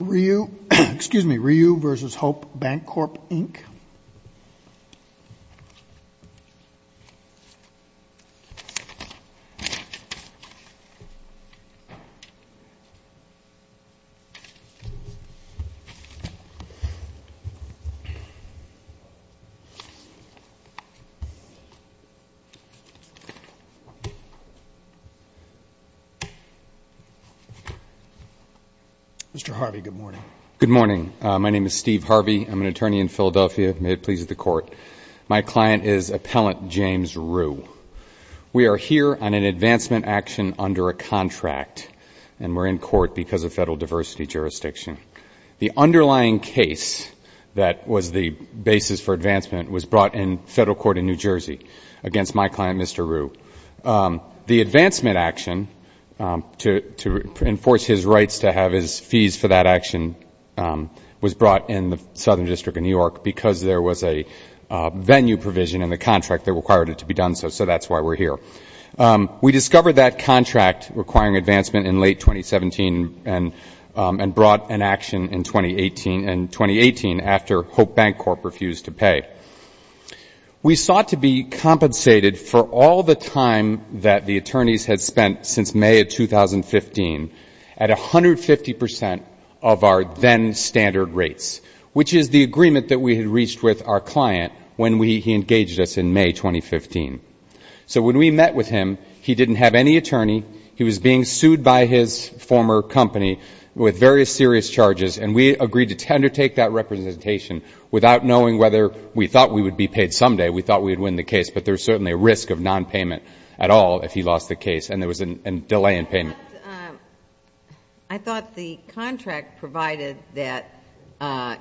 Ryu v. Hope Bancorp, Inc. Mr. Harvey, good morning. Good morning. My name is Steve Harvey. I'm an attorney in Philadelphia. May it please the Court, my client is Appellant James Rue. We are here on an advancement action under a contract, and we're in court because of federal diversity jurisdiction. The underlying case that was the basis for advancement was brought in federal court in New Jersey against my client, Mr. Rue. The advancement action to enforce his rights to have his fees for that action was brought in the Southern District of New York because there was a venue provision in the contract that required it to be done so, so that's why we're here. We discovered that contract requiring advancement in late 2017 and brought an action in 2018 after Hope Bancorp refused to pay. We sought to be compensated for all the time that the attorneys had spent since May of 2015 at 150% of our then standard rates, which is the agreement that we had reached with our client when he engaged us in May 2015. So when we met with him, he didn't have any attorney. He was being sued by his former company with very serious charges, and we agreed to undertake that representation without knowing whether we thought we would be paid someday. We thought we would win the case, but there's certainly a risk of nonpayment at all if he lost the case, and there was a delay in payment. I thought the contract provided that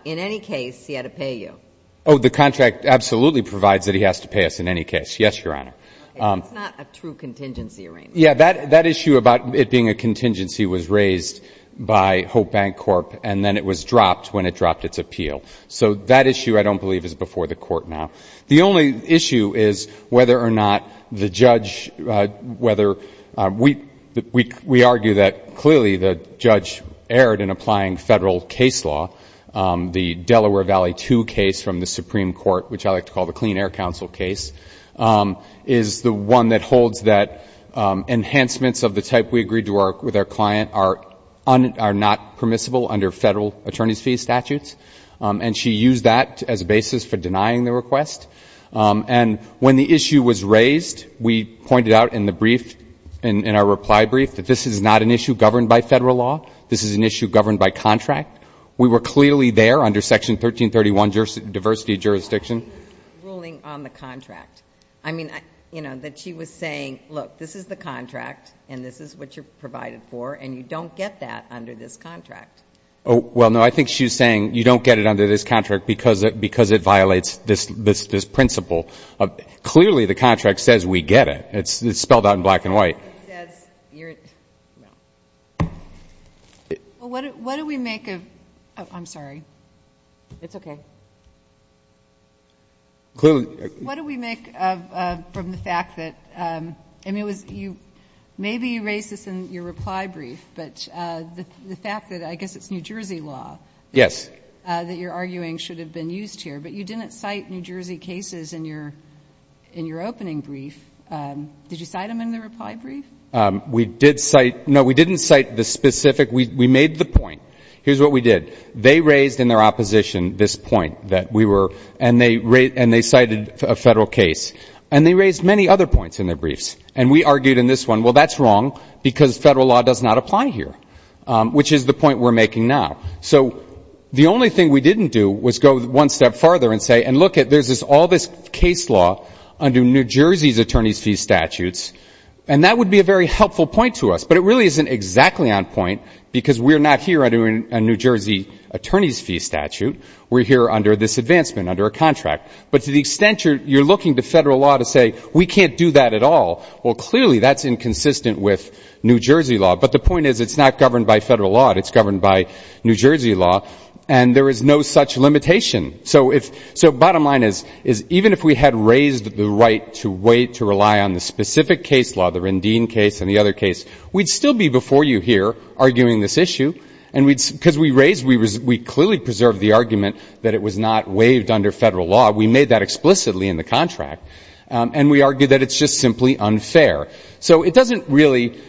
in any case he had to pay you. Oh, the contract absolutely provides that he has to pay us in any case. Yes, Your Honor. It's not a true contingency arraignment. Yeah, that issue about it being a contingency was raised by Hope Bancorp, and then it was dropped when it dropped its appeal. So that issue, I don't believe, is before the Court now. The only issue is whether or not the judge, whether we argue that clearly the judge erred in applying federal case law. The Delaware Valley 2 case from the Supreme Court, which I like to call the Clean Air Council case, is the one that holds that enhancements of the type we agreed to with our client are not permissible under federal attorney's fee statutes, and she used that as a basis for denying the request. And when the issue was raised, we pointed out in the brief, in our reply brief, that this is not an issue governed by federal law. This is an issue governed by contract. We were clearly there under Section 1331, diversity of jurisdiction. Ruling on the contract. I mean, you know, that she was saying, look, this is the contract, and this is what you're provided for, and you don't get that under this contract. Well, no, I think she was saying you don't get it under this contract because it violates this principle. Clearly the contract says we get it. It's spelled out in black and white. What do we make of the fact that, I mean, maybe you raised this in your reply brief, but the fact that I guess it's New Jersey law. Yes. That you're arguing should have been used here. But you didn't cite New Jersey cases in your opening brief. Did you cite them in the reply brief? We did cite them. No, we didn't cite the specific. We made the point. Here's what we did. They raised in their opposition this point that we were, and they cited a federal case. And they raised many other points in their briefs. And we argued in this one, well, that's wrong because federal law does not apply here, which is the point we're making now. So the only thing we didn't do was go one step farther and say, and look, there's all this case law under New Jersey's attorney's fee statutes, and that would be a very helpful point to us. But it really isn't exactly on point because we're not here under a New Jersey attorney's fee statute. We're here under this advancement, under a contract. But to the extent you're looking to federal law to say we can't do that at all, well, clearly that's inconsistent with New Jersey law. But the point is it's not governed by federal law. It's governed by New Jersey law. And there is no such limitation. So bottom line is even if we had raised the right to wait, to rely on the specific case law, the Rendine case and the other case, we'd still be before you here arguing this issue. Because we raised, we clearly preserved the argument that it was not waived under federal law. We made that explicitly in the contract. And we argue that it's just simply unfair. So it doesn't really,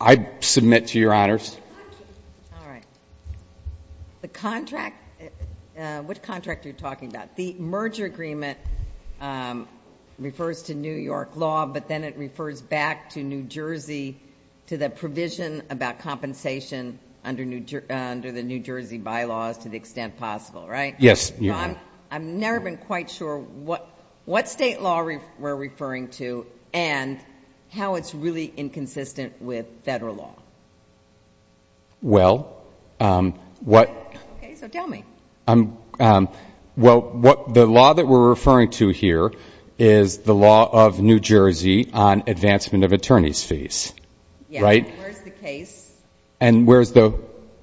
I submit to your honors. All right. The contract, what contract are you talking about? The merger agreement refers to New York law, but then it refers back to New Jersey, to the provision about compensation under the New Jersey bylaws to the extent possible, right? Yes. Ron, I've never been quite sure what state law we're referring to and how it's really inconsistent with federal law. Well, what the law that we're referring to here is the law of New Jersey on advancement of attorney's fees, right? Yes. Where's the case? And where's the?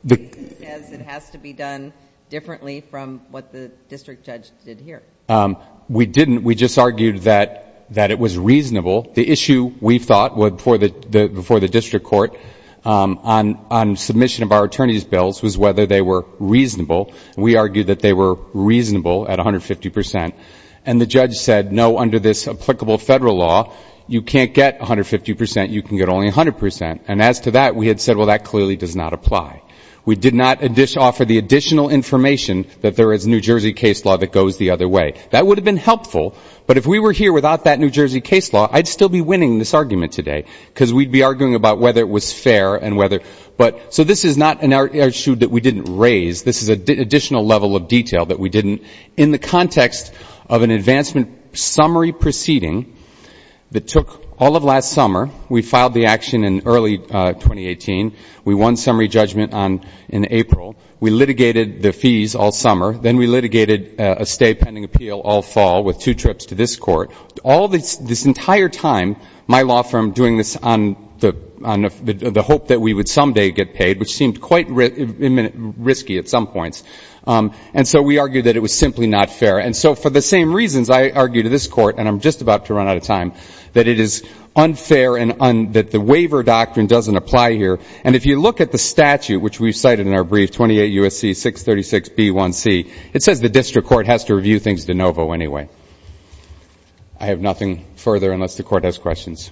Because it has to be done differently from what the district judge did here. We didn't. We just argued that it was reasonable. The issue we thought before the district court on submission of our attorney's bills was whether they were reasonable. We argued that they were reasonable at 150 percent. And the judge said, no, under this applicable federal law, you can't get 150 percent. You can get only 100 percent. And as to that, we had said, well, that clearly does not apply. We did not offer the additional information that there is New Jersey case law that goes the other way. That would have been helpful, but if we were here without that New Jersey case law, I'd still be winning this argument today because we'd be arguing about whether it was fair and whether. So this is not an issue that we didn't raise. This is an additional level of detail that we didn't. In the context of an advancement summary proceeding that took all of last summer, we filed the action in early 2018. We won summary judgment in April. We litigated the fees all summer. Then we litigated a stay pending appeal all fall with two trips to this court. All this entire time, my law firm doing this on the hope that we would someday get paid, which seemed quite risky at some points. And so we argued that it was simply not fair. And so for the same reasons, I argue to this court, and I'm just about to run out of time, that it is unfair and that the waiver doctrine doesn't apply here. And if you look at the statute, which we've cited in our brief, 28 U.S.C. 636B1C, it says the district court has to review things de novo anyway. I have nothing further unless the court has questions.